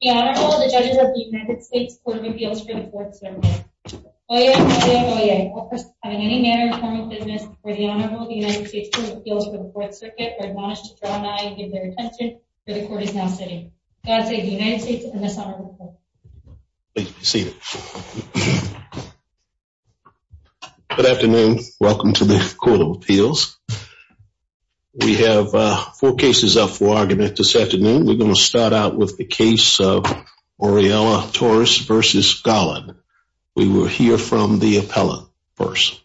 The Honorable, the Judges of the United States Court of Appeals for the Fourth Circuit. Oyez, oyez, oyez. All persons having any manner of formal business for the Honorable of the United States Court of Appeals for the Fourth Circuit are admonished to draw an eye and give their attention, for the Court is now sitting. God save the United States and this Honorable Court. Please be seated. Good afternoon. Welcome to the Court of Appeals. We have four cases up for argument this afternoon. We're going to start out with the case of Orellana-Torres v. Garland. We will hear from the appellant first.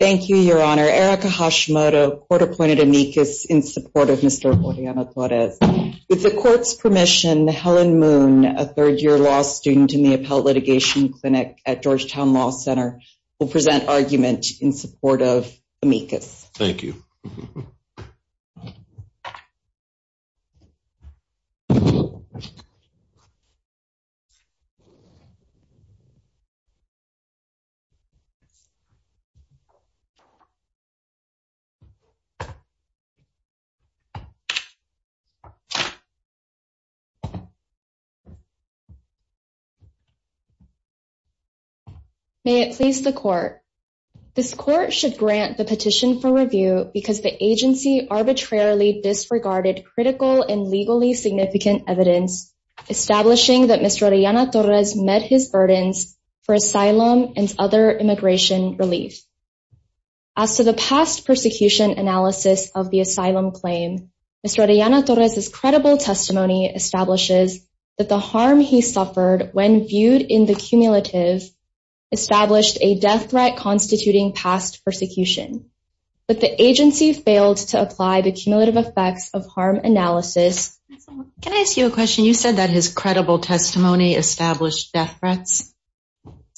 Thank you, Your Honor. Erica Hashimoto, Court-appointed amicus in support of Mr. Orellana-Torres. With the Court's permission, Helen Moon, a third-year law student in the Appellate Litigation Clinic at Georgetown Law Center, will present argument in support of amicus. Thank you. May it please the Court. This Court should grant the petition for review because the agency arbitrarily disregarded critical and legally significant evidence establishing that Mr. Orellana-Torres met his burdens for asylum and other immigration relief. As to the past persecution analysis of the asylum claim, Mr. Orellana-Torres' credible testimony establishes that the harm he suffered when viewed in the cumulative established a death threat constituting past persecution. But the agency failed to apply the cumulative effects of harm analysis. Can I ask you a question? You said that his credible testimony established death threats?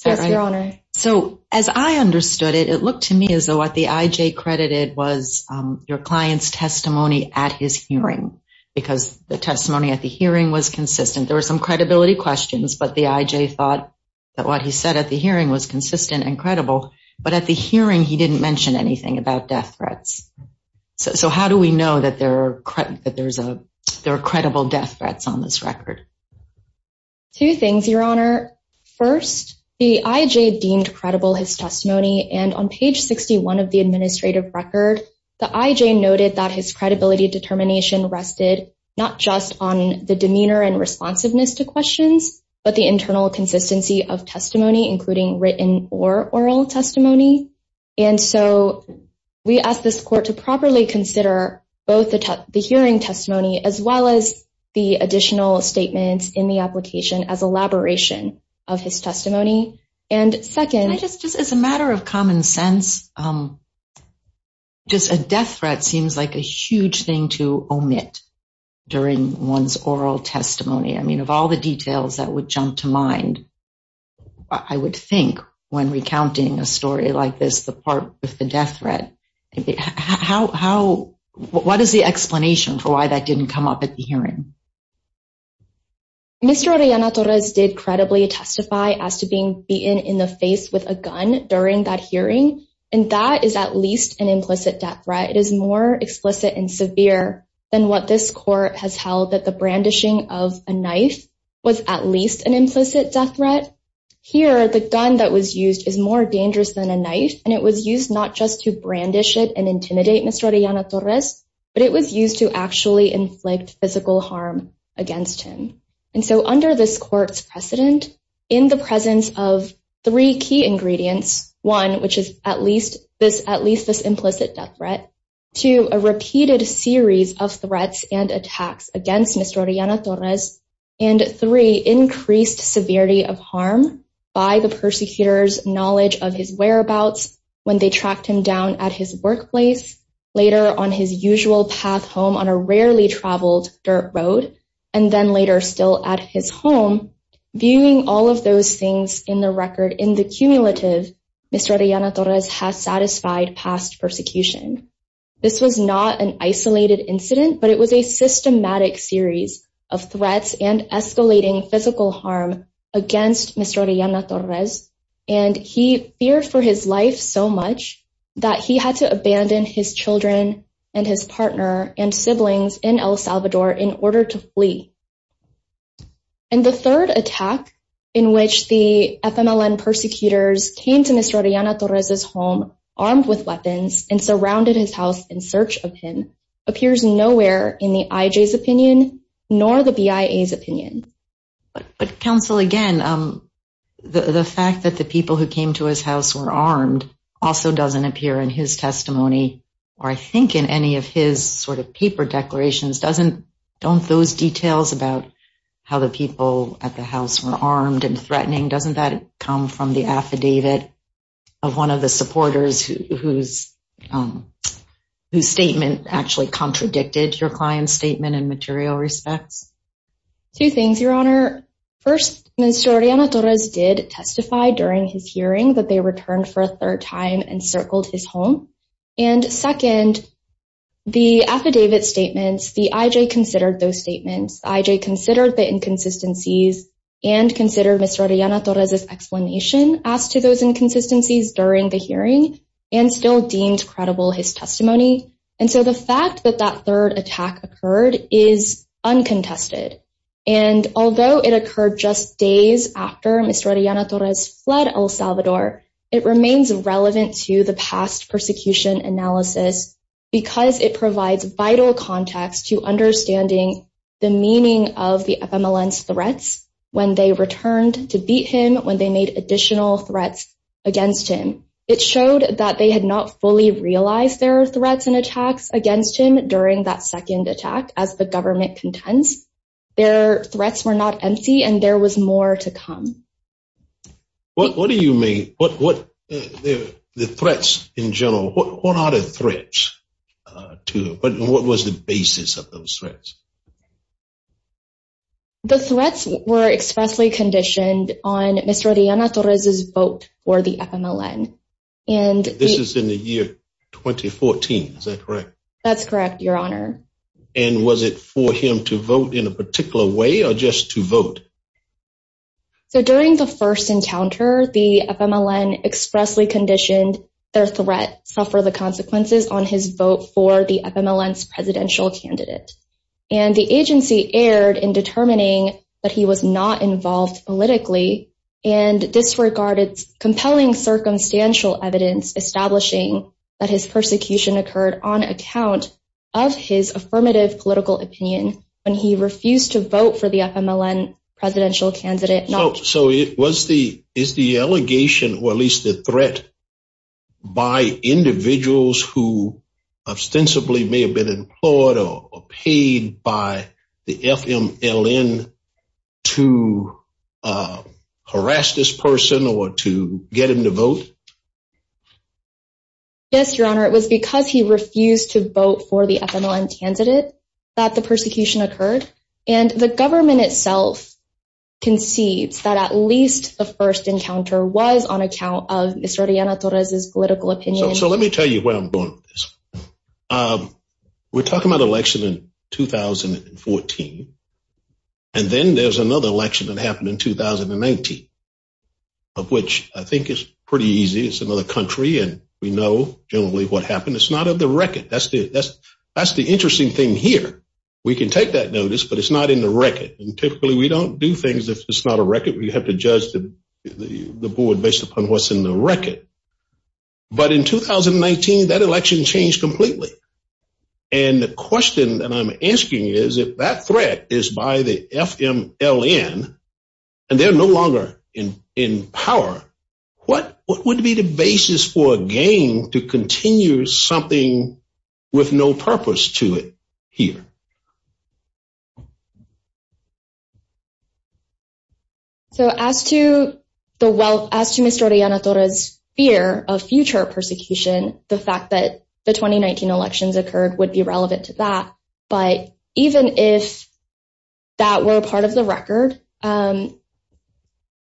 Yes, Your Honor. So, as I understood it, it looked to me as though what the IJ credited was your client's testimony at his hearing, because the testimony at the hearing was consistent. There were some credibility questions, but the IJ thought that what he said at the hearing was consistent and credible. But at the hearing, he didn't mention anything about death threats. So how do we know that there are credible death threats on this record? Two things, Your Honor. First, the IJ deemed credible his testimony, and on page 61 of the administrative record, the IJ noted that his credibility determination rested not just on the demeanor and responsiveness to questions, but the internal consistency of testimony, including written or oral testimony. And so we asked this court to properly consider both the hearing testimony as well as the additional statements in the application as elaboration of his testimony. And second… Just as a matter of common sense, just a death threat seems like a huge thing to omit during one's oral testimony. I mean, of all the details that would jump to mind, I would think when recounting a story like this, the part with the death threat, what is the explanation for why that didn't come up at the hearing? Mr. Oriana Torres did credibly testify as to being beaten in the face with a gun during that hearing, and that is at least an implicit death threat. It is more explicit and severe than what this court has held that the brandishing of a knife was at least an implicit death threat. Here, the gun that was used is more dangerous than a knife, and it was used not just to brandish it and intimidate Mr. Oriana Torres, but it was used to actually inflict physical harm against him. And so under this court's precedent, in the presence of three key ingredients, one, which is at least this implicit death threat, two, a repeated series of threats and attacks against Mr. Oriana Torres, and three, increased severity of harm by the persecutors' knowledge of his whereabouts when they tracked him down at his workplace, later on his usual path home on a rarely traveled dirt road, and then later still at his home, viewing all of those things in the record in the cumulative, Mr. Oriana Torres has satisfied past persecution. This was not an isolated incident, but it was a systematic series of threats and escalating physical harm against Mr. Oriana Torres, and he feared for his life so much that he had to abandon his children and his partner and siblings in El Salvador in order to flee. And the third attack, in which the FMLN persecutors came to Mr. Oriana Torres' home armed with weapons and surrounded his house in search of him, appears nowhere in the IJ's opinion nor the BIA's opinion. But counsel, again, the fact that the people who came to his house were armed also doesn't appear in his testimony, or I think in any of his sort of paper declarations. Don't those details about how the people at the house were armed and threatening, doesn't that come from the affidavit of one of the supporters whose statement actually contradicted your client's statement in material respects? Two things, Your Honor. First, Mr. Oriana Torres did testify during his hearing that they returned for a third time and circled his home. And second, the affidavit statements, the IJ considered those statements. The IJ considered the inconsistencies and considered Mr. Oriana Torres' explanation as to those inconsistencies during the hearing and still deemed credible his testimony. And so the fact that that third attack occurred is uncontested. And although it occurred just days after Mr. Oriana Torres fled El Salvador, it remains relevant to the past persecution analysis because it provides vital context to understanding the meaning of the FMLN's threats when they returned to beat him, when they made additional threats against him. It showed that they had not fully realized there were threats and attacks against him during that second attack as the government contends. Their threats were not empty and there was more to come. What do you mean, the threats in general, what are the threats to, what was the basis of those threats? The threats were expressly conditioned on Mr. Oriana Torres' vote for the FMLN. And this is in the year 2014, is that correct? That's correct, Your Honor. And was it for him to vote in a particular way or just to vote? So during the first encounter, the FMLN expressly conditioned their threat suffer the consequences on his vote for the FMLN's presidential candidate. And the agency erred in determining that he was not involved politically and disregarded compelling circumstantial evidence establishing that his persecution occurred on account of his affirmative political opinion when he refused to vote for the FMLN presidential candidate. So is the allegation, or at least the threat, by individuals who ostensibly may have been employed or paid by the FMLN to harass this person or to get him to vote? Yes, Your Honor, it was because he refused to vote for the FMLN candidate that the persecution occurred. And the government itself concedes that at least the first encounter was on account of Mr. Oriana Torres' political opinion. So let me tell you where I'm going with this. We're talking about an election in 2014, and then there's another election that happened in 2019, of which I think is pretty easy. It's another country, and we know generally what happened. It's not of the record. That's the interesting thing here. We can take that notice, but it's not in the record. And typically, we don't do things if it's not a record. We have to judge the board based upon what's in the record. But in 2019, that election changed completely. And the question that I'm asking is if that threat is by the FMLN and they're no longer in power, what would be the basis for a game to continue something with no purpose to it here? So as to Mr. Oriana Torres' fear of future persecution, the fact that the 2019 elections occurred would be relevant to that. But even if that were part of the record,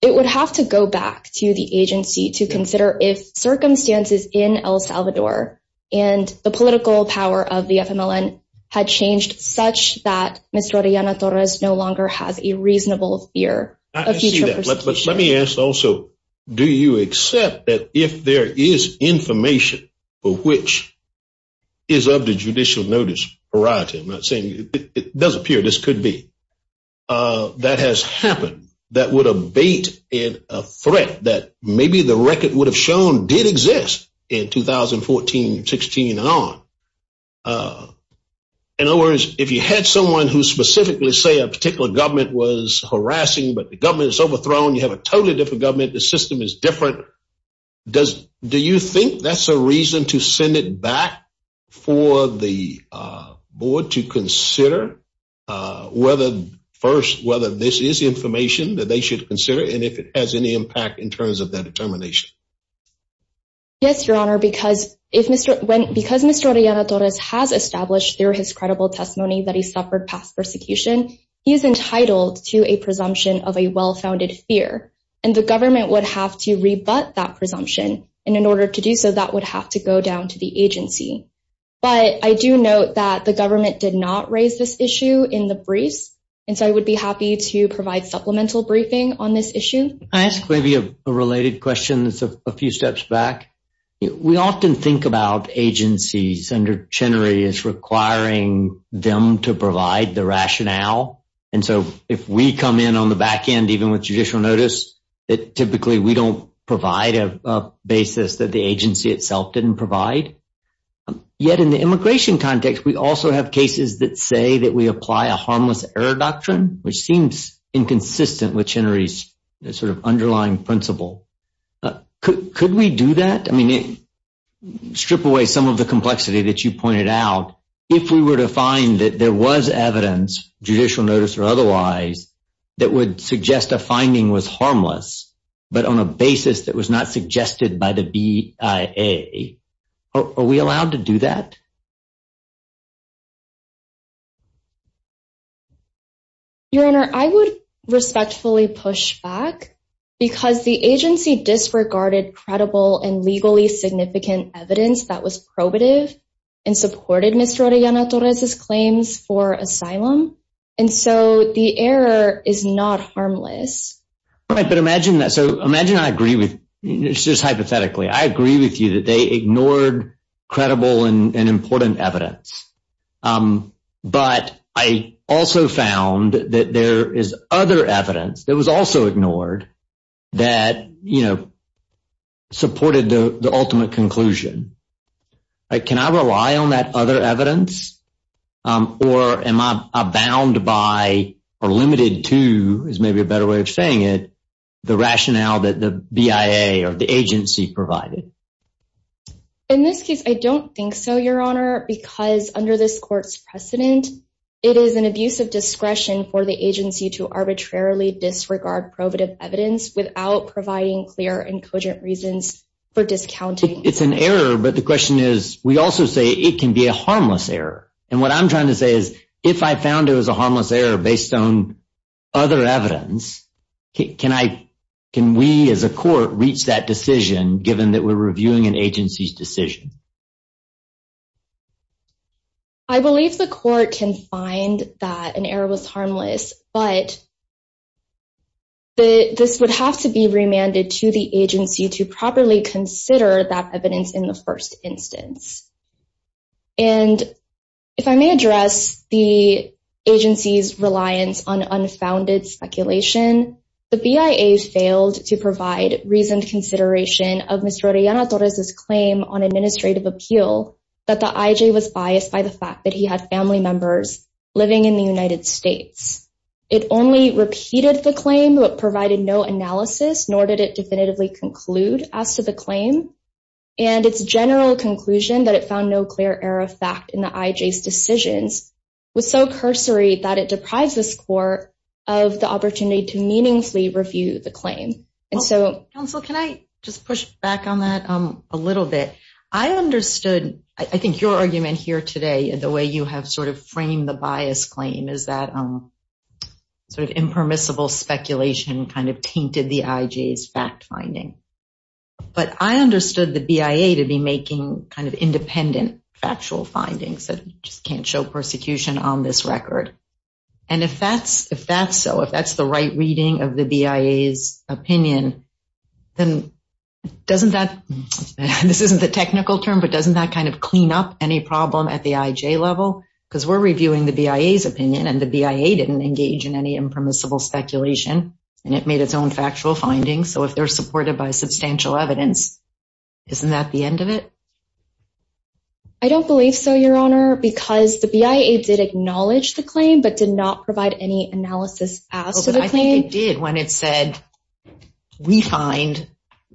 it would have to go back to the agency to consider if circumstances in El Salvador and the political power of the FMLN had changed such that Mr. Oriana Torres no longer has a reasonable fear of future persecution. But let me ask also, do you accept that if there is information for which is of the judicial notice variety, I'm not saying it doesn't appear, this could be, that has happened, that would abate a threat that maybe the record would have shown did exist in 2014, 16 and on? In other words, if you had someone who specifically say a particular government was harassing, but the government is overthrown, you have a totally different government, the system is different, do you think that's a reason to send it back for the board to consider whether this is information that they should consider and if it has any impact in terms of their determination? Yes, Your Honor, because Mr. Oriana Torres has established through his credible testimony that he suffered past persecution, he is entitled to a presumption of a well-founded fear and the government would have to rebut that presumption and in order to do so, that would have to go down to the agency. But I do note that the government did not raise this issue in the briefs and so I would be happy to provide supplemental briefing on this issue. Can I ask maybe a related question that's a few steps back? We often think about agencies under Chenery as requiring them to provide the rationale and so if we come in on the back end, even with judicial notice, typically we don't provide a basis that the agency itself didn't provide. Yet in the immigration context, we also have cases that say that we apply a harmless error doctrine, which seems inconsistent with Chenery's sort of underlying principle. Could we do that? I mean, strip away some of the complexity that you pointed out. If we were to find that there was evidence, judicial notice or otherwise, that would suggest a finding was harmless, but on a basis that was not suggested by the BIA, are we allowed to do that? Your Honor, I would respectfully push back because the agency disregarded credible and legally significant evidence that was probative and supported Mr. Orellana-Torres' claims for asylum and so the error is not harmless. Right, but imagine I agree with – just hypothetically, I agree with you that they ignored credible and important evidence, but I also found that there is other evidence that was also ignored that supported the ultimate conclusion. Can I rely on that other evidence or am I bound by or limited to, is maybe a better way of saying it, the rationale that the BIA or the agency provided? In this case, I don't think so, Your Honor, because under this court's precedent, it is an abuse of discretion for the agency to arbitrarily disregard probative evidence without providing clear and cogent reasons for discounting. It's an error, but the question is, we also say it can be a harmless error, and what I'm trying to say is if I found it was a harmless error based on other evidence, can we as a court reach that decision given that we're reviewing an agency's decision? I believe the court can find that an error was harmless, but this would have to be remanded to the agency to properly consider that evidence in the first instance. And if I may address the agency's reliance on unfounded speculation, the BIA failed to provide reasoned consideration of Mr. Oriana Torres' claim on an administrative appeal that the IJ was biased by the fact that he had family members living in the United States. It only repeated the claim, but provided no analysis, nor did it definitively conclude as to the claim, and its general conclusion that it found no clear error of fact in the IJ's decisions was so cursory that it deprives this court of the opportunity to meaningfully review the claim. Counsel, can I just push back on that a little bit? I understood, I think your argument here today, the way you have sort of framed the bias claim is that sort of impermissible speculation kind of tainted the IJ's fact finding. But I understood the BIA to be making kind of independent factual findings that just can't show persecution on this record. And if that's so, if that's the right reading of the BIA's opinion, then doesn't that, this isn't the technical term, but doesn't that kind of clean up any problem at the IJ level? Because we're reviewing the BIA's opinion, and the BIA didn't engage in any impermissible speculation, and it made its own factual findings, so if they're supported by substantial evidence, isn't that the end of it? I don't believe so, Your Honor, because the BIA did acknowledge the claim, but did not provide any analysis as to the claim. The BIA did when it said, we find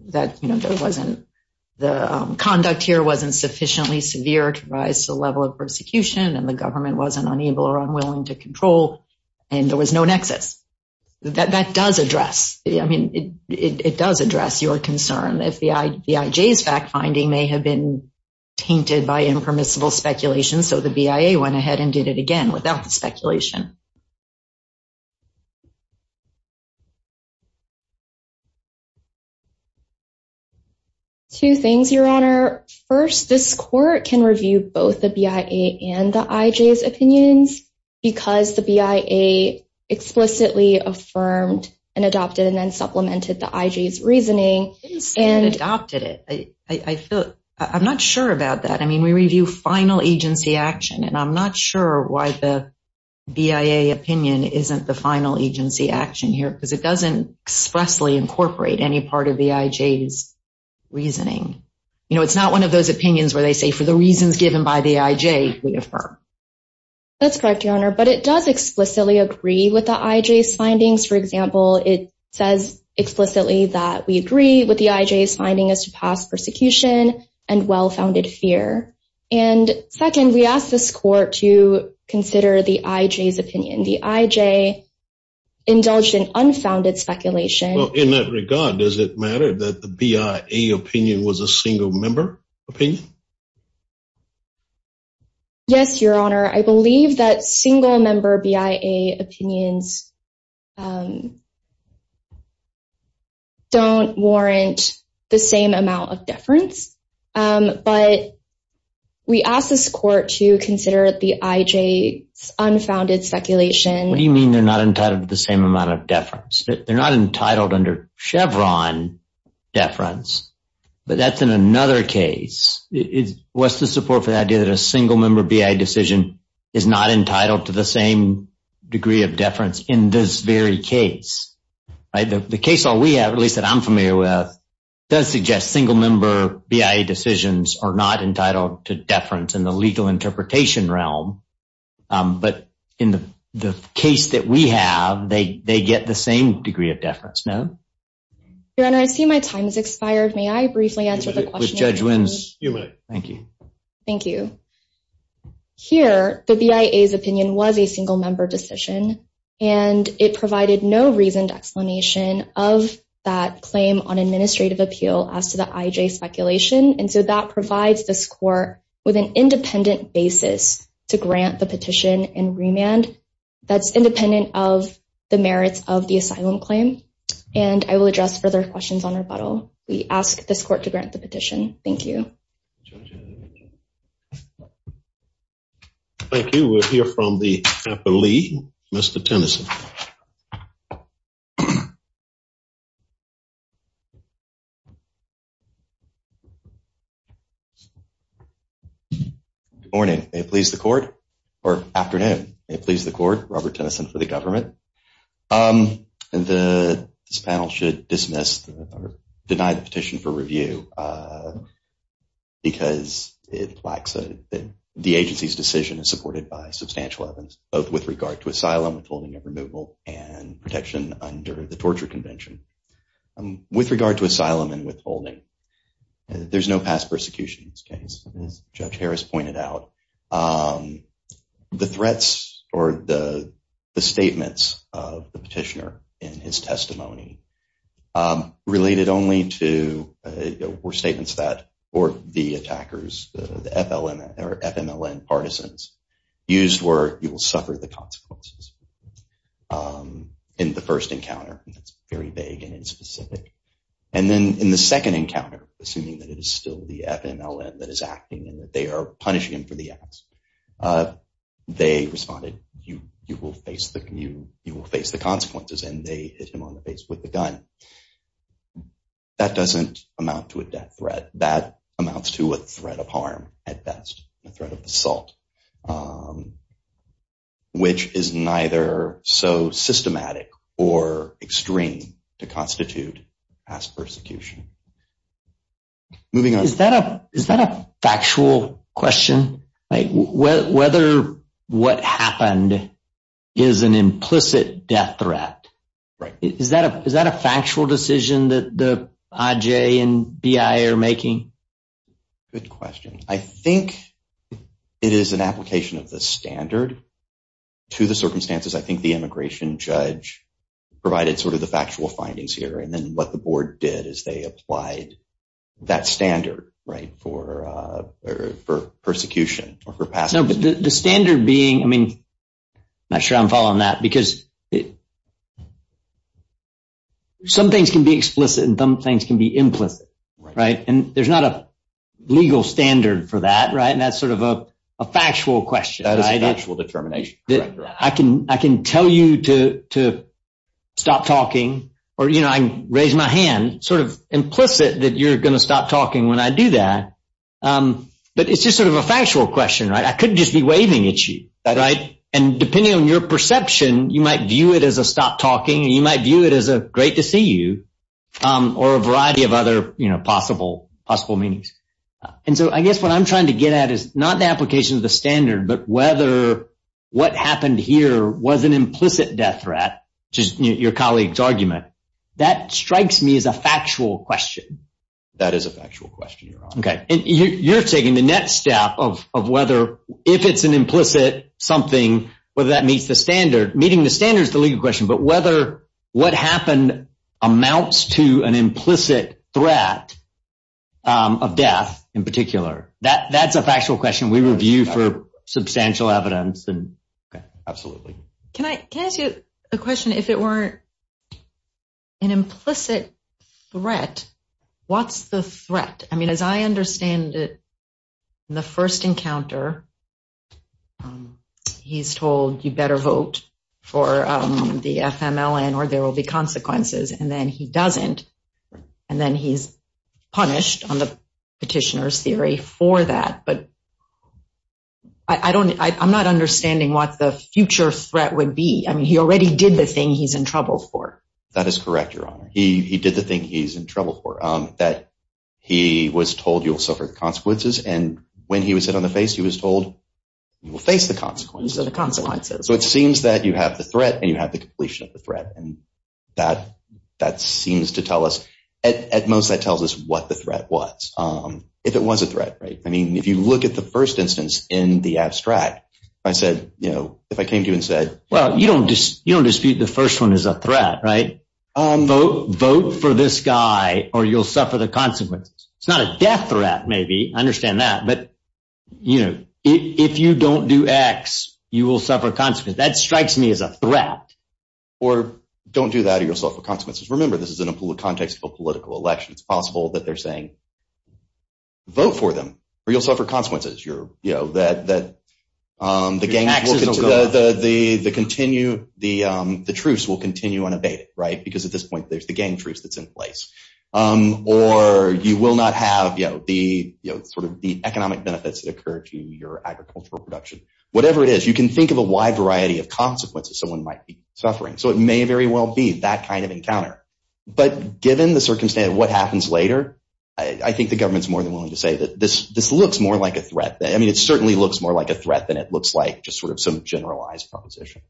that there wasn't, the conduct here wasn't sufficiently severe to rise to the level of persecution, and the government wasn't unable or unwilling to control, and there was no nexus. That does address, I mean, it does address your concern, if the IJ's fact finding may have been tainted by impermissible speculation, so the BIA went ahead and did it again without the speculation. Two things, Your Honor. First, this court can review both the BIA and the IJ's opinions, because the BIA explicitly affirmed and adopted and then supplemented the IJ's reasoning. It didn't say it adopted it. I'm not sure about that. I mean, we review final agency action, and I'm not sure why the BIA opinion isn't the final agency action here, because it doesn't expressly incorporate any part of the IJ's reasoning. You know, it's not one of those opinions where they say, for the reasons given by the IJ, we affirm. That's correct, Your Honor, but it does explicitly agree with the IJ's findings. For example, it says explicitly that we agree with the IJ's finding as to past persecution and well-founded fear. And second, we asked this court to consider the IJ's opinion. The IJ indulged in unfounded speculation. Well, in that regard, does it matter that the BIA opinion was a single-member opinion? Yes, Your Honor. I believe that single-member BIA opinions don't warrant the same amount of deference, but we asked this court to consider the IJ's unfounded speculation. What do you mean they're not entitled to the same amount of deference? They're not entitled under Chevron deference, but that's in another case. What's the support for the idea that a single-member BIA decision is not entitled to the same degree of deference in this very case? The case that we have, at least that I'm familiar with, does suggest single-member BIA decisions are not entitled to deference in the legal interpretation realm, but in the case that we have, they get the same degree of deference, no? Your Honor, I see my time has expired. May I briefly answer the question? You may. Thank you. Here, the BIA's opinion was a single-member decision, and it provided no reasoned explanation of that claim on administrative appeal as to the IJ speculation, and so that provides this court with an independent basis to grant the petition and remand. That's independent of the merits of the asylum claim, and I will address further questions on rebuttal. We ask this court to grant the petition. Thank you. Thank you. We'll hear from the attorney, Mr. Tennyson. Good morning. May it please the court, or afternoon. May it please the court, Robert Tennyson for the government. This panel should dismiss or deny the petition for review because it lacks – the agency's decision is supported by substantial evidence, both with regard to asylum, withholding and removal, and protection under the Torture Convention. With regard to asylum and withholding, there's no past persecution in this case, as Judge Harris pointed out. The threats or the statements of the petitioner in his testimony related only to – were statements that – or the attackers, the FMLN partisans, used were, you will suffer the consequences in the first encounter. That's very vague and inspecific. And then in the second encounter, assuming that it is still the FMLN that is acting and that they are punishing him for the acts, they responded, you will face the consequences, and they hit him on the face with the gun. That doesn't amount to a death threat. That amounts to a threat of harm at best, a threat of assault, which is neither so systematic or extreme to constitute past persecution. Moving on. Is that a factual question, like whether what happened is an implicit death threat? Right. Is that a factual decision that the IJ and BI are making? Good question. I think it is an application of the standard to the circumstances. I think the immigration judge provided sort of the factual findings here. And then what the board did is they applied that standard, right, for persecution or for passing. No, but the standard being – I mean, I'm not sure I'm following that because some things can be explicit and some things can be implicit, right? And there's not a legal standard for that, right? And that's sort of a factual question. That is an actual determination. I can tell you to stop talking or, you know, I can raise my hand, sort of implicit that you're going to stop talking when I do that. But it's just sort of a factual question, right? I couldn't just be waving at you, right? And depending on your perception, you might view it as a stop talking and you might view it as a great to see you or a variety of other possible meanings. And so I guess what I'm trying to get at is not the application of the standard but whether what happened here was an implicit death threat, which is your colleague's argument. That strikes me as a factual question. That is a factual question, Your Honor. Okay, and you're taking the next step of whether if it's an implicit something, whether that meets the standard. Meeting the standard is the legal question, but whether what happened amounts to an implicit threat of death in particular. That's a factual question we review for substantial evidence. Okay, absolutely. Can I ask you a question? If it were an implicit threat, what's the threat? I mean, as I understand it, the first encounter, he's told you better vote for the FMLN or there will be consequences. And then he doesn't. And then he's punished on the petitioner's theory for that. But I'm not understanding what the future threat would be. I mean, he already did the thing he's in trouble for. That is correct, Your Honor. He did the thing he's in trouble for, that he was told you'll suffer the consequences. And when he was hit on the face, he was told you will face the consequences. So the consequences. So it seems that you have the threat and you have the completion of the threat. And that seems to tell us – at most, that tells us what the threat was, if it was a threat, right? I mean, if you look at the first instance in the abstract, I said, you know, if I came to you and said – Well, you don't dispute the first one is a threat, right? Vote for this guy or you'll suffer the consequences. It's not a death threat, maybe. I understand that. But, you know, if you don't do X, you will suffer consequences. That strikes me as a threat. Or don't do that or you'll suffer consequences. Remember, this is in a context of a political election. It's possible that they're saying vote for them or you'll suffer consequences. You know, that the gang – the continue – the truce will continue unabated, right? Because at this point, there's the gang truce that's in place. Or you will not have, you know, the sort of the economic benefits that occur to your agricultural production. Whatever it is, you can think of a wide variety of consequences someone might be suffering. So it may very well be that kind of encounter. But given the circumstance of what happens later, I think the government is more than willing to say that this looks more like a threat. I mean it certainly looks more like a threat than it looks like just sort of some generalized proposition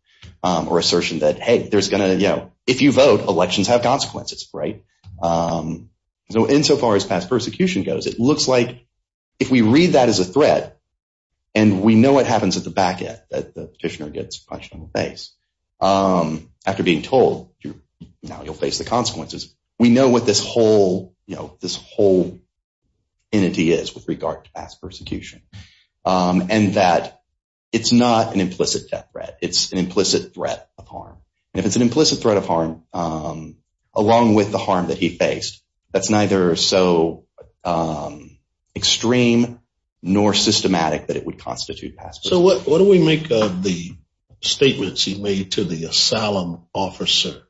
or assertion that, hey, there's going to – you know, if you vote, elections have consequences, right? So insofar as past persecution goes, it looks like if we read that as a threat and we know what happens at the back end that the petitioner gets punched in the face, after being told, you know, you'll face the consequences, we know what this whole, you know, this whole entity is with regard to past persecution. And that it's not an implicit death threat. It's an implicit threat of harm. And if it's an implicit threat of harm, along with the harm that he faced, that's neither so extreme nor systematic that it would constitute past persecution. So what do we make of the statements he made to the asylum officer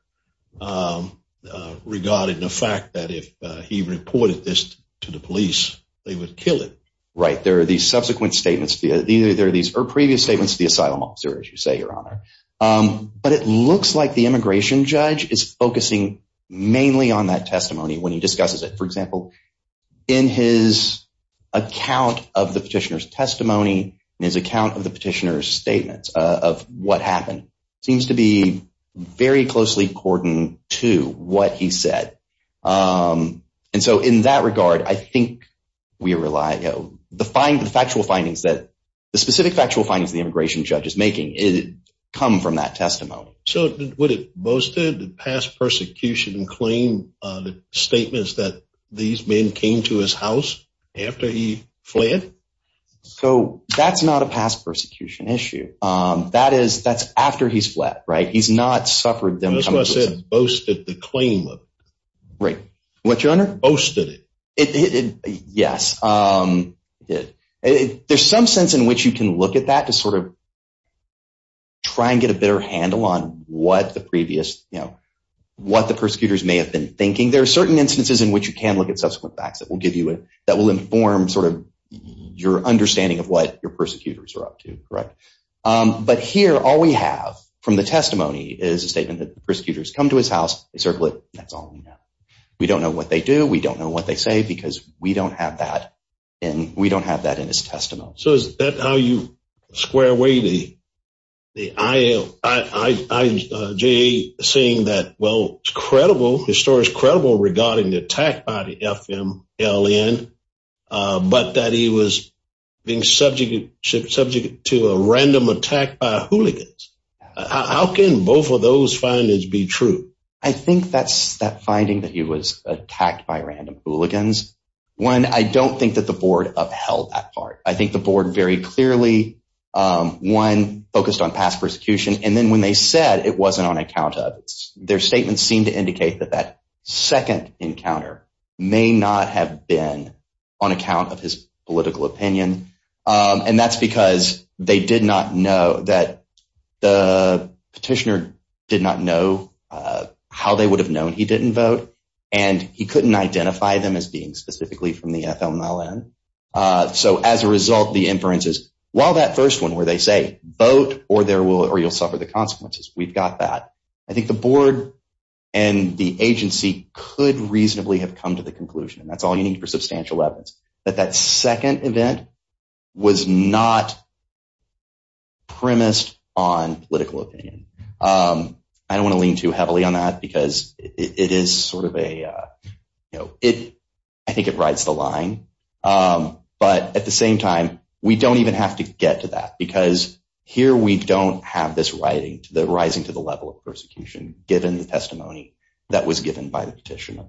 regarding the fact that if he reported this to the police, they would kill him? Right. There are these subsequent statements. There are these previous statements to the asylum officer, as you say, Your Honor. But it looks like the immigration judge is focusing mainly on that testimony when he discusses it. For example, in his account of the petitioner's testimony, in his account of the petitioner's statements of what happened, seems to be very closely cordoned to what he said. And so in that regard, I think we rely on the factual findings, the specific factual findings the immigration judge is making come from that testimony. So would it boasted the past persecution claim statements that these men came to his house after he fled? So that's not a past persecution issue. That's after he's fled, right? He's not suffered them coming to his house. That's what I said, boasted the claim of it. Right. What, Your Honor? Boasted it. Yes. There's some sense in which you can look at that to sort of try and get a better handle on what the previous, what the persecutors may have been thinking. There are certain instances in which you can look at subsequent facts that will give you, that will inform sort of your understanding of what your persecutors are up to. But here, all we have from the testimony is a statement that the persecutors come to his house. They circle it. That's all we know. We don't know what they do. We don't know what they say because we don't have that. And we don't have that in his testimony. So is that how you square away the I.J. saying that, well, it's credible, his story is credible regarding the attack by the FMLN, but that he was being subject to a random attack by a hooligan. How can both of those findings be true? I think that's that finding that he was attacked by random hooligans. One, I don't think that the board upheld that part. I think the board very clearly, one, focused on past persecution, and then when they said it wasn't on account of it, their statements seem to indicate that that second encounter may not have been on account of his political opinion. And that's because they did not know that the petitioner did not know how they would have known he didn't vote, and he couldn't identify them as being specifically from the FMLN. So as a result, the inferences, while that first one where they say, vote or you'll suffer the consequences, we've got that, I think the board and the agency could reasonably have come to the conclusion, and that's all you need for substantial evidence, that that second event was not premised on political opinion. I don't want to lean too heavily on that because it is sort of a, I think it rides the line. But at the same time, we don't even have to get to that because here we don't have this rising to the level of persecution, given the testimony that was given by the petitioner.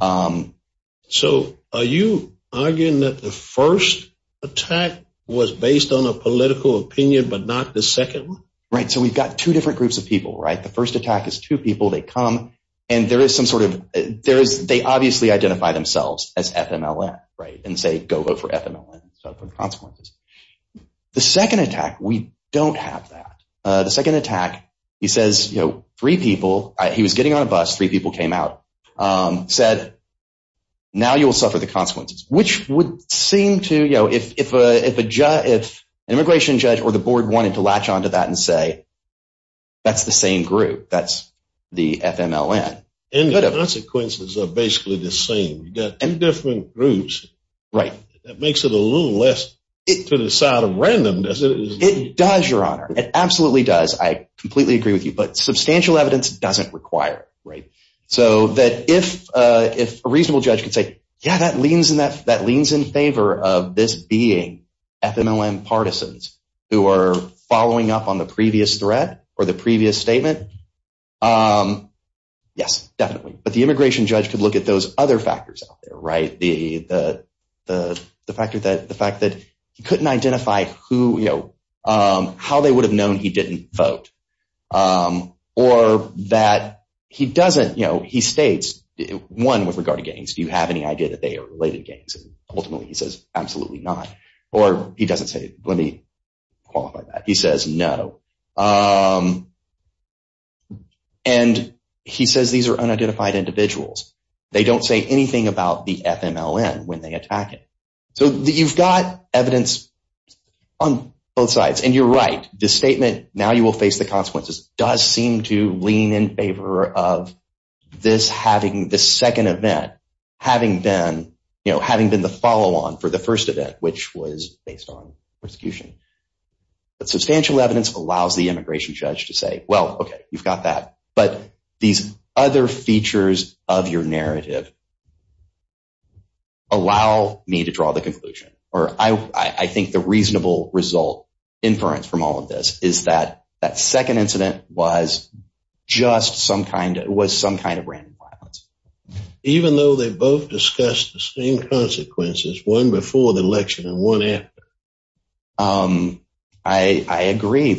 So are you arguing that the first attack was based on a political opinion but not the second one? Right, so we've got two different groups of people, right? The first attack is two people, they come, and there is some sort of, they obviously identify themselves as FMLN, right? And say, go vote for FMLN and suffer the consequences. The second attack, we don't have that. The second attack, he says, you know, three people, he was getting on a bus, three people came out, said, now you will suffer the consequences, which would seem to, you know, if an immigration judge or the board wanted to latch onto that and say that's the same group, that's the FMLN. And the consequences are basically the same. You've got two different groups. Right. That makes it a little less to the side of randomness. It does, Your Honor. It absolutely does. I completely agree with you. But substantial evidence doesn't require it, right? So that if a reasonable judge could say, yeah, that leans in favor of this being FMLN partisans who are following up on the previous threat or the previous statement, yes, definitely. But the immigration judge could look at those other factors out there, right? The fact that he couldn't identify who, you know, how they would have known he didn't vote or that he doesn't, you know, he states, one, with regard to gangs, do you have any idea that they are related gangs? Ultimately he says absolutely not. Or he doesn't say, let me qualify that. He says no. And he says these are unidentified individuals. They don't say anything about the FMLN when they attack it. So you've got evidence on both sides. And you're right. This statement, now you will face the consequences, does seem to lean in favor of this having, this second event having been, you know, having been the follow-on for the first event, which was based on persecution. But substantial evidence allows the immigration judge to say, well, okay, you've got that. But these other features of your narrative allow me to draw the conclusion, or I think the reasonable result inference from all of this is that that second incident was just some kind of random violence. Even though they both discussed the same consequences, one before the election and one after? I agree.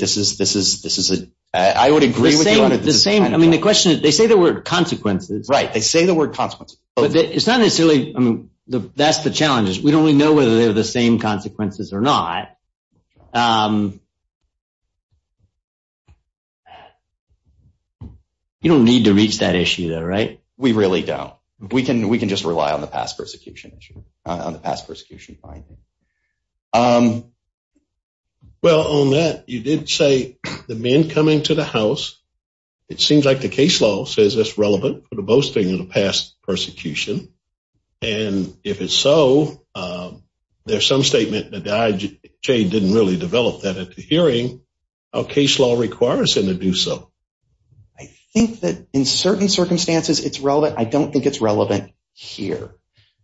I would agree with you on it. I mean, the question is, they say the word consequences. Right. They say the word consequences. But it's not necessarily, I mean, that's the challenge, is we don't really know whether they have the same consequences or not. You don't need to reach that issue, though, right? We really don't. We can just rely on the past persecution finding. Well, on that, you did say the men coming to the house. It seems like the case law says it's relevant for the boasting of the past persecution. And if it's so, there's some statement that the IHA didn't really develop that at the hearing. Our case law requires them to do so. I think that in certain circumstances it's relevant. I don't think it's relevant here.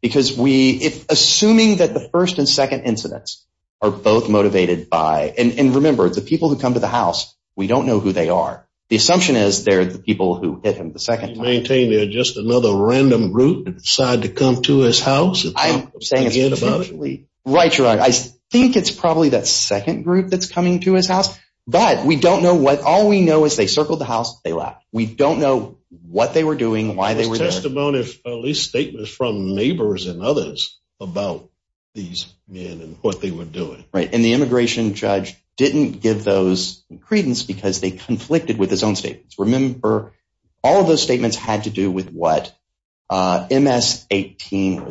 Assuming that the first and second incidents are both motivated by, and remember, the people who come to the house, we don't know who they are. The assumption is they're the people who hit him the second time. Do you maintain they're just another random group that decided to come to his house? I'm saying it's probably. Right, you're right. I think it's probably that second group that's coming to his house. But we don't know what. All we know is they circled the house, they left. We don't know what they were doing, why they were there. There's testimony, at least statements from neighbors and others about these men and what they were doing. Right, and the immigration judge didn't give those credence because they conflicted with his own statements. Remember, all of those statements had to do with what MS-13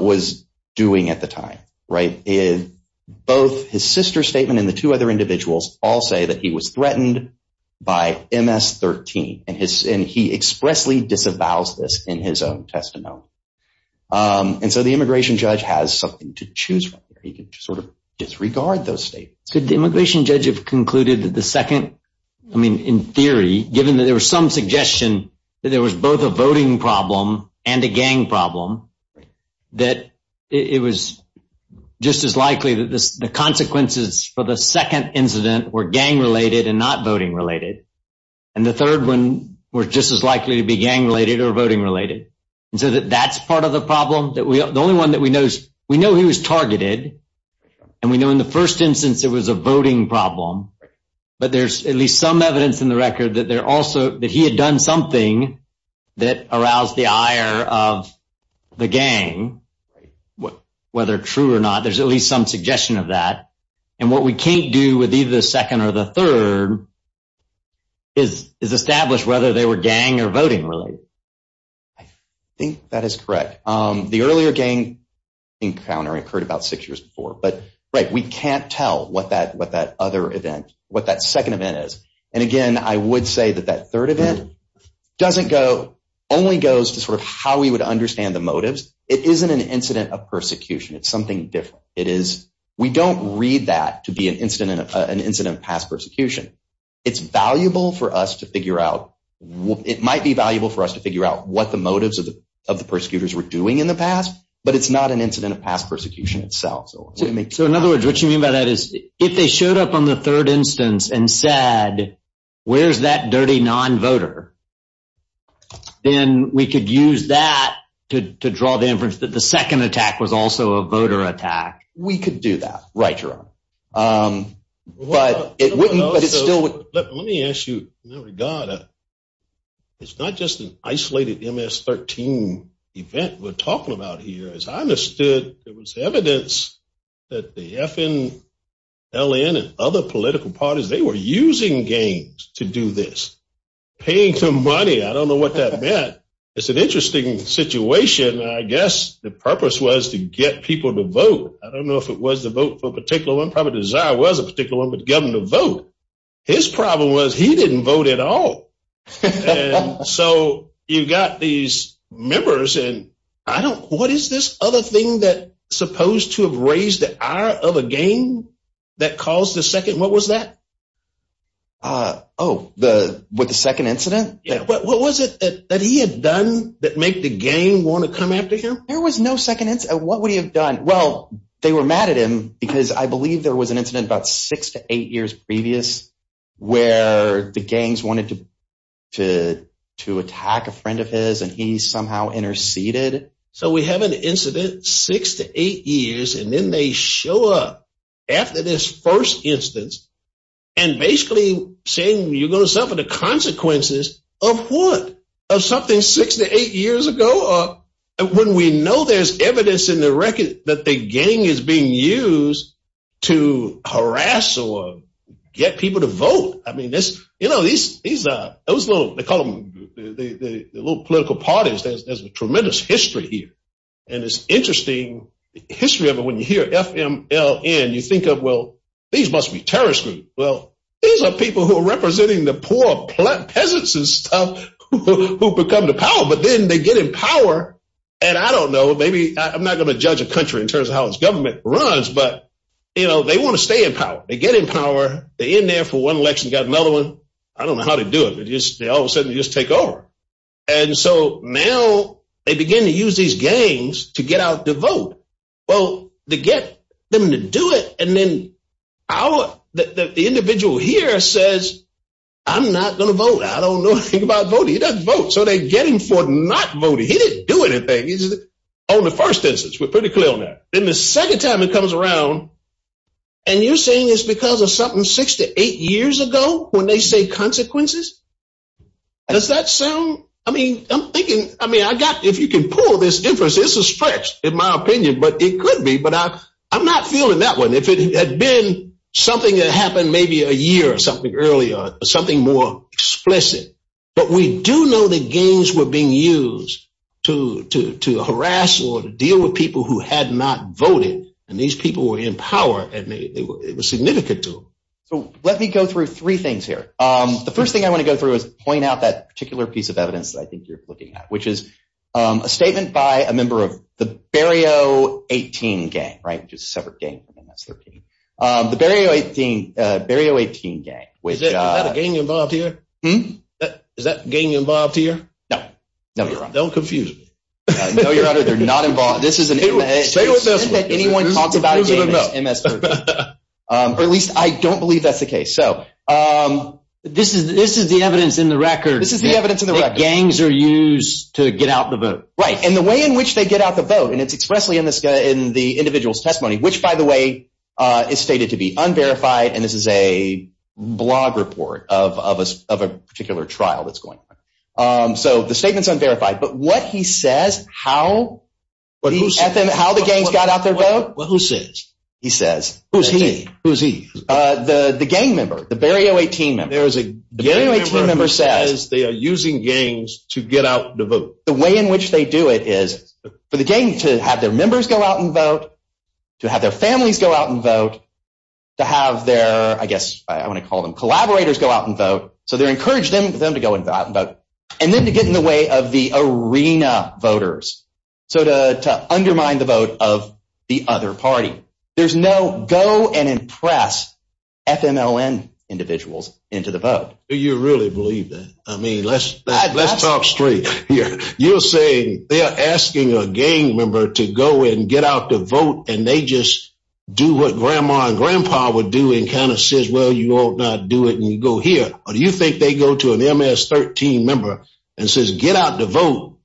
was doing at the time. Both his sister's statement and the two other individuals all say that he was threatened by MS-13. And he expressly disavows this in his own testimony. And so the immigration judge has something to choose from. He can sort of disregard those statements. Could the immigration judge have concluded that the second, I mean, in theory, given that there was some suggestion that there was both a voting problem and a gang problem, that it was just as likely that the consequences for the second incident were gang-related and not voting-related. And the third one was just as likely to be gang-related or voting-related. And so that's part of the problem. The only one that we know is we know he was targeted. And we know in the first instance it was a voting problem. But there's at least some evidence in the record that there also, that he had done something that aroused the ire of the gang, whether true or not. There's at least some suggestion of that. And what we can't do with either the second or the third is establish whether they were gang or voting-related. I think that is correct. The earlier gang encounter occurred about six years before. But, right, we can't tell what that other event, what that second event is. And, again, I would say that that third event doesn't go, only goes to sort of how we would understand the motives. It isn't an incident of persecution. It's something different. It is, we don't read that to be an incident of past persecution. It's valuable for us to figure out, it might be valuable for us to figure out what the motives of the persecutors were doing in the past. But it's not an incident of past persecution itself. So, in other words, what you mean by that is if they showed up on the third instance and said, where's that dirty non-voter, then we could use that to draw the inference that the second attack was also a voter attack. We could do that. Right, Your Honor. But it wouldn't, but it still would. Let me ask you, in that regard, it's not just an isolated MS-13 event we're talking about here. As I understood, there was evidence that the FNLN and other political parties, they were using games to do this. Paying for money, I don't know what that meant. It's an interesting situation. I guess the purpose was to get people to vote. I don't know if it was the vote for a particular one. Probably Desire was a particular one, but the governor vote. His problem was he didn't vote at all. So you've got these members. What is this other thing that's supposed to have raised the ire of a game that caused the second, what was that? Oh, with the second incident? Yeah. What was it that he had done that made the gang want to come after him? There was no second incident. What would he have done? Well, they were mad at him because I believe there was an incident about six to eight years previous where the gangs wanted to attack a friend of his and he somehow interceded. So we have an incident six to eight years and then they show up after this first instance and basically saying you're going to suffer the consequences of what? Of something six to eight years ago? When we know there's evidence in the record that the gang is being used to harass or get people to vote. I mean, this, you know, these, these, those little, they call them the little political parties. There's a tremendous history here. And it's interesting history of it. When you hear FMLN, you think of, well, these must be terrorist groups. Well, these are people who are representing the poor peasants and stuff who become the power, but then they get in power. And I don't know. Maybe I'm not going to judge a country in terms of how its government runs, but, you know, they want to stay in power. They get in power. They're in there for one election. Got another one. I don't know how to do it. They all of a sudden just take over. And so now they begin to use these gangs to get out to vote. Well, to get them to do it, and then our, the individual here says, I'm not going to vote. I don't know anything about voting. He doesn't vote. So they get him for not voting. He didn't do anything. On the first instance, we're pretty clear on that. Then the second time it comes around, and you're saying it's because of something six to eight years ago when they say consequences? Does that sound, I mean, I'm thinking, I mean, I got, if you can pull this inference, it's a stretch in my opinion. But it could be. But I'm not feeling that one. If it had been something that happened maybe a year or something earlier, something more explicit. But we do know that gangs were being used to harass or deal with people who had not voted. And these people were in power, and it was significant to them. So let me go through three things here. The first thing I want to go through is point out that particular piece of evidence that I think you're looking at, which is a statement by a member of the Barrio 18 gang, right, which is a separate gang from MS-13. The Barrio 18 gang. Is that a gang involved here? Hmm? Is that gang involved here? No. No, Your Honor. Don't confuse me. No, Your Honor, they're not involved. This is an MS-13. It's not that anyone talks about a gang as MS-13. Or at least I don't believe that's the case. So this is the evidence in the record. This is the evidence in the record. Gangs are used to get out the vote. Right, and the way in which they get out the vote, and it's expressly in the individual's testimony, which, by the way, is stated to be unverified, and this is a blog report of a particular trial that's going on. So the statement's unverified. But what he says, how the gangs got out their vote? Well, who says? He says. Who's he? The gang member, the Barrio 18 member. The Barrio 18 member says they are using gangs to get out the vote. The way in which they do it is for the gang to have their members go out and vote, to have their families go out and vote, to have their, I guess I want to call them collaborators, go out and vote. So they're encouraging them to go out and vote. And then to get in the way of the arena voters, so to undermine the vote of the other party. There's no go and impress FMLN individuals into the vote. Do you really believe that? I mean, let's talk straight here. You're saying they are asking a gang member to go and get out the vote, and they just do what grandma and grandpa would do and kind of says, well, you ought not do it, and you go here. Or do you think they go to an MS-13 member and says get out the vote?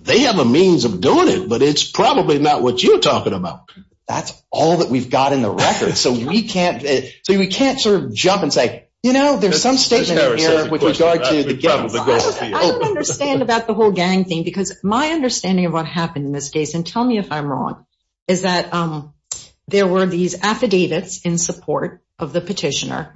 They have a means of doing it, but it's probably not what you're talking about. That's all that we've got in the record. So we can't sort of jump and say, you know, there's some statement here with regard to the gang. I don't understand about the whole gang thing, because my understanding of what happened in this case, and tell me if I'm wrong, is that there were these affidavits in support of the petitioner,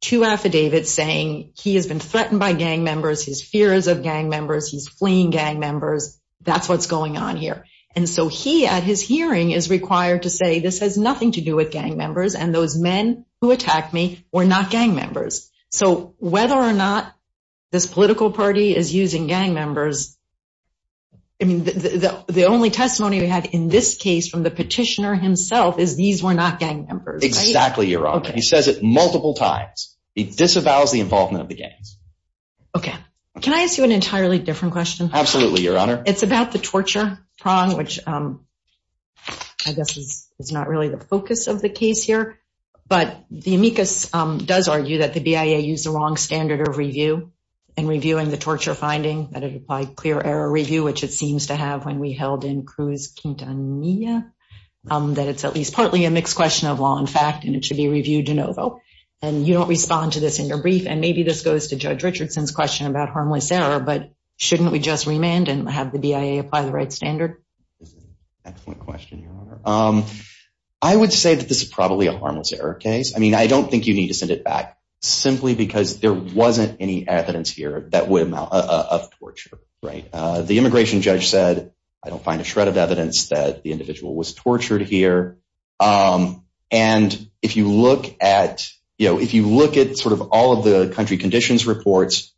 two affidavits saying he has been threatened by gang members, he has fears of gang members, he's fleeing gang members. That's what's going on here. And so he at his hearing is required to say this has nothing to do with gang members, and those men who attacked me were not gang members. So whether or not this political party is using gang members, I mean, the only testimony we had in this case from the petitioner himself is these were not gang members. Exactly, Your Honor. He says it multiple times. He disavows the involvement of the gangs. Okay. Can I ask you an entirely different question? Absolutely, Your Honor. It's about the torture prong, which I guess is not really the focus of the case here. But the amicus does argue that the BIA used the wrong standard of review in reviewing the torture finding, that it applied clear error review, which it seems to have when we held in Cruz Quintanilla, that it's at least partly a mixed question of law and fact, and it should be reviewed de novo. And you don't respond to this in your brief, and maybe this goes to Judge Richardson's question about harmless error, but shouldn't we just remand and have the BIA apply the right standard? Excellent question, Your Honor. I would say that this is probably a harmless error case. I mean, I don't think you need to send it back simply because there wasn't any evidence here of torture. The immigration judge said, I don't find a shred of evidence that the individual was tortured here. And if you look at sort of all of the country conditions reports,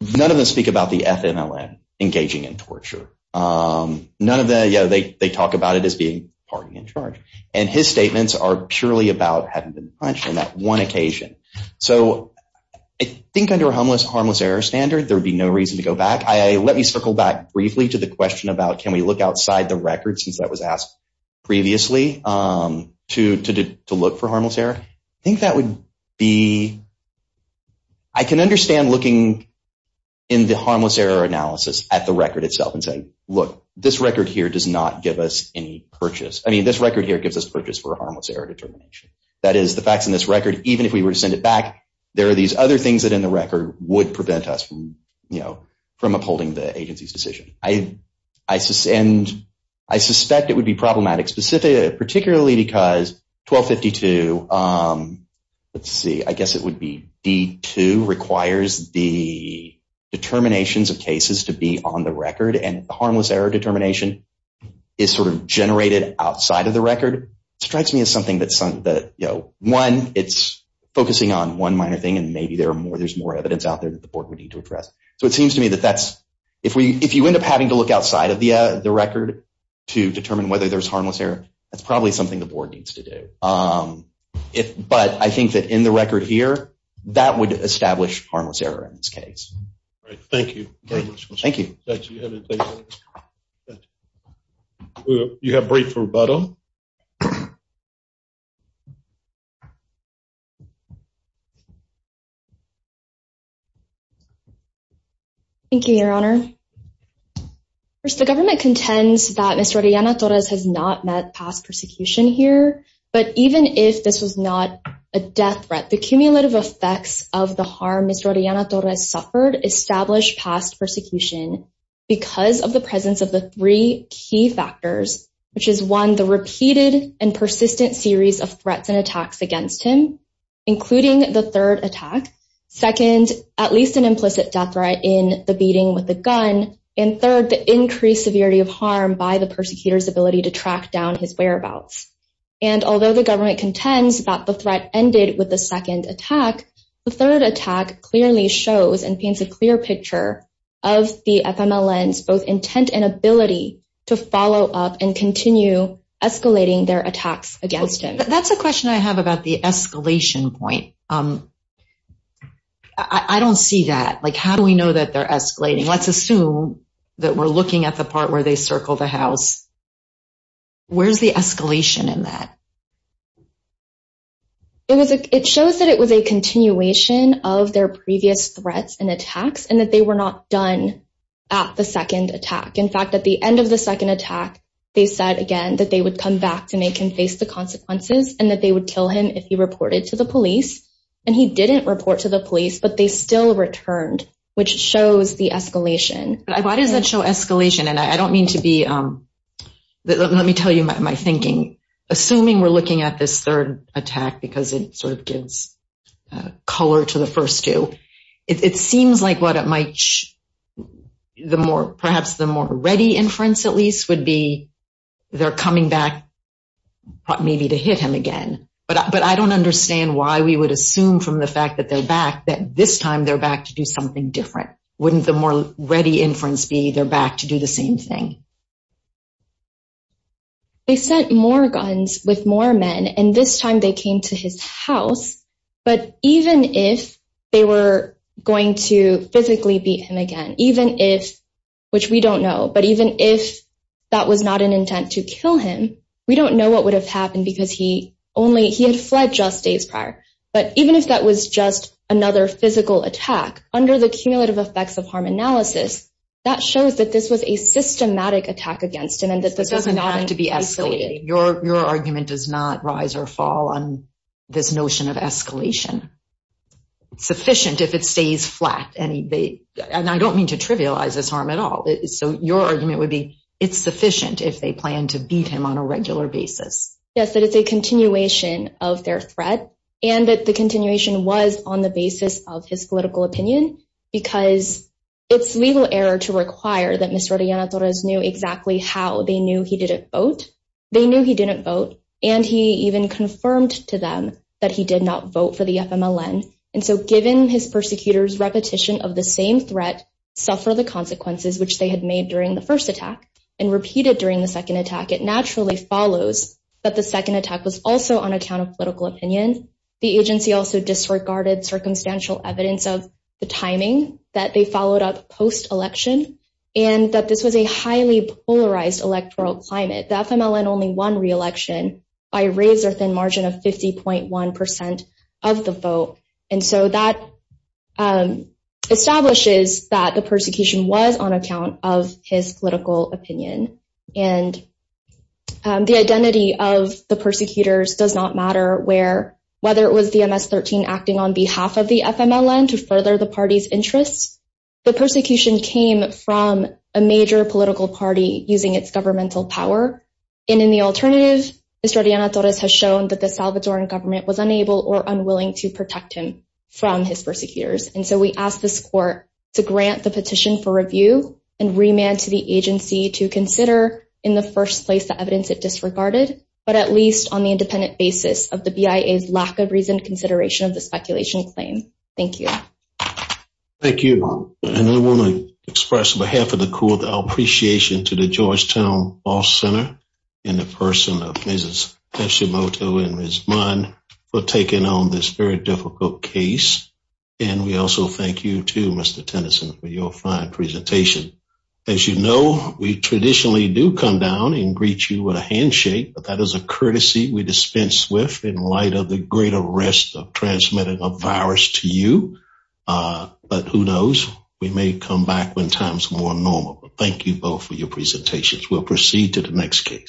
none of them speak about the FMLN engaging in torture. None of them, yeah, they talk about it as being party in charge. And his statements are purely about having been punched on that one occasion. So I think under a harmless error standard, there would be no reason to go back. Let me circle back briefly to the question about can we look outside the records, since that was asked previously, to look for harmless error. I think that would be, I can understand looking in the harmless error analysis at the record itself and saying, look, this record here does not give us any purchase. I mean, this record here gives us purchase for a harmless error determination. That is, the facts in this record, even if we were to send it back, there are these other things that in the record would prevent us from upholding the agency's decision. And I suspect it would be problematic, particularly because 1252, let's see, I guess it would be D2, requires the determinations of cases to be on the record, and the harmless error determination is sort of generated outside of the record. It strikes me as something that, you know, one, it's focusing on one minor thing, and maybe there's more evidence out there that the board would need to address. So it seems to me that that's, if you end up having to look outside of the record to determine whether there's harmless error, that's probably something the board needs to do. But I think that in the record here, that would establish harmless error in this case. Thank you very much. Thank you. Thank you. You have a brief rebuttal. Thank you, Your Honor. First, the government contends that Ms. Rodriana Torres has not met past persecution here, but even if this was not a death threat, the cumulative effects of the harm Ms. Rodriana Torres suffered established past persecution because of the presence of the three key factors, which is, one, the repeated and persistent series of threats and attacks against him, including the third attack, second, at least an implicit death threat in the beating with the gun, and third, the increased severity of harm by the persecutor's ability to track down his whereabouts. And although the government contends that the threat ended with the second attack, the third attack clearly shows and paints a clear picture of the FMLN's both intent and ability to follow up and continue escalating their attacks against him. That's a question I have about the escalation point. I don't see that. Like, how do we know that they're escalating? Let's assume that we're looking at the part where they circle the house. Where's the escalation in that? It shows that it was a continuation of their previous threats and attacks and that they were not done at the second attack. In fact, at the end of the second attack, they said, again, that they would come back to make him face the consequences and that they would kill him if he reported to the police. And he didn't report to the police, but they still returned, which shows the escalation. Why does that show escalation? And I don't mean to be – let me tell you my thinking. Assuming we're looking at this third attack because it sort of gives color to the first two, it seems like what it might – perhaps the more ready inference, at least, would be they're coming back maybe to hit him again. But I don't understand why we would assume from the fact that they're back that this time they're back to do something different. Why wouldn't the more ready inference be they're back to do the same thing? They sent more guns with more men, and this time they came to his house. But even if they were going to physically beat him again, even if – which we don't know – but even if that was not an intent to kill him, we don't know what would have happened because he only – he had fled just days prior. But even if that was just another physical attack, under the cumulative effects of harm analysis, that shows that this was a systematic attack against him and that this was not an escalation. It doesn't have to be escalated. Your argument does not rise or fall on this notion of escalation. It's sufficient if it stays flat, and I don't mean to trivialize this harm at all. So your argument would be it's sufficient if they plan to beat him on a regular basis. Yes, that it's a continuation of their threat and that the continuation was on the basis of his political opinion because it's legal error to require that Mr. Oriana Torres knew exactly how they knew he didn't vote. They knew he didn't vote, and he even confirmed to them that he did not vote for the FMLN. And so given his persecutors' repetition of the same threat, suffer the consequences, which they had made during the first attack, and repeated during the second attack, it naturally follows that the second attack was also on account of political opinion. The agency also disregarded circumstantial evidence of the timing that they followed up post-election and that this was a highly polarized electoral climate. The FMLN only won re-election by a razor-thin margin of 50.1 percent of the vote, and so that establishes that the persecution was on account of his political opinion. And the identity of the persecutors does not matter where, whether it was the MS-13 acting on behalf of the FMLN to further the party's interests, the persecution came from a major political party using its governmental power. And in the alternative, Mr. Oriana Torres has shown that the Salvadorean government was unable or unwilling to protect him from his persecutors. And so we ask this court to grant the petition for review and remand to the agency to consider in the first place the evidence it disregarded, but at least on the independent basis of the BIA's lack of reasoned consideration of the speculation claim. Thank you. Thank you. And I want to express on behalf of the court our appreciation to the Georgetown Law Center and the person of Mrs. Hashimoto and Ms. Munn for taking on this very difficult case. And we also thank you to Mr. Tennyson for your fine presentation. As you know, we traditionally do come down and greet you with a handshake, but that is a courtesy we dispense with in light of the great arrest of transmitting a virus to you. But who knows, we may come back when time's more normal. Thank you both for your presentations. We'll proceed to the next case.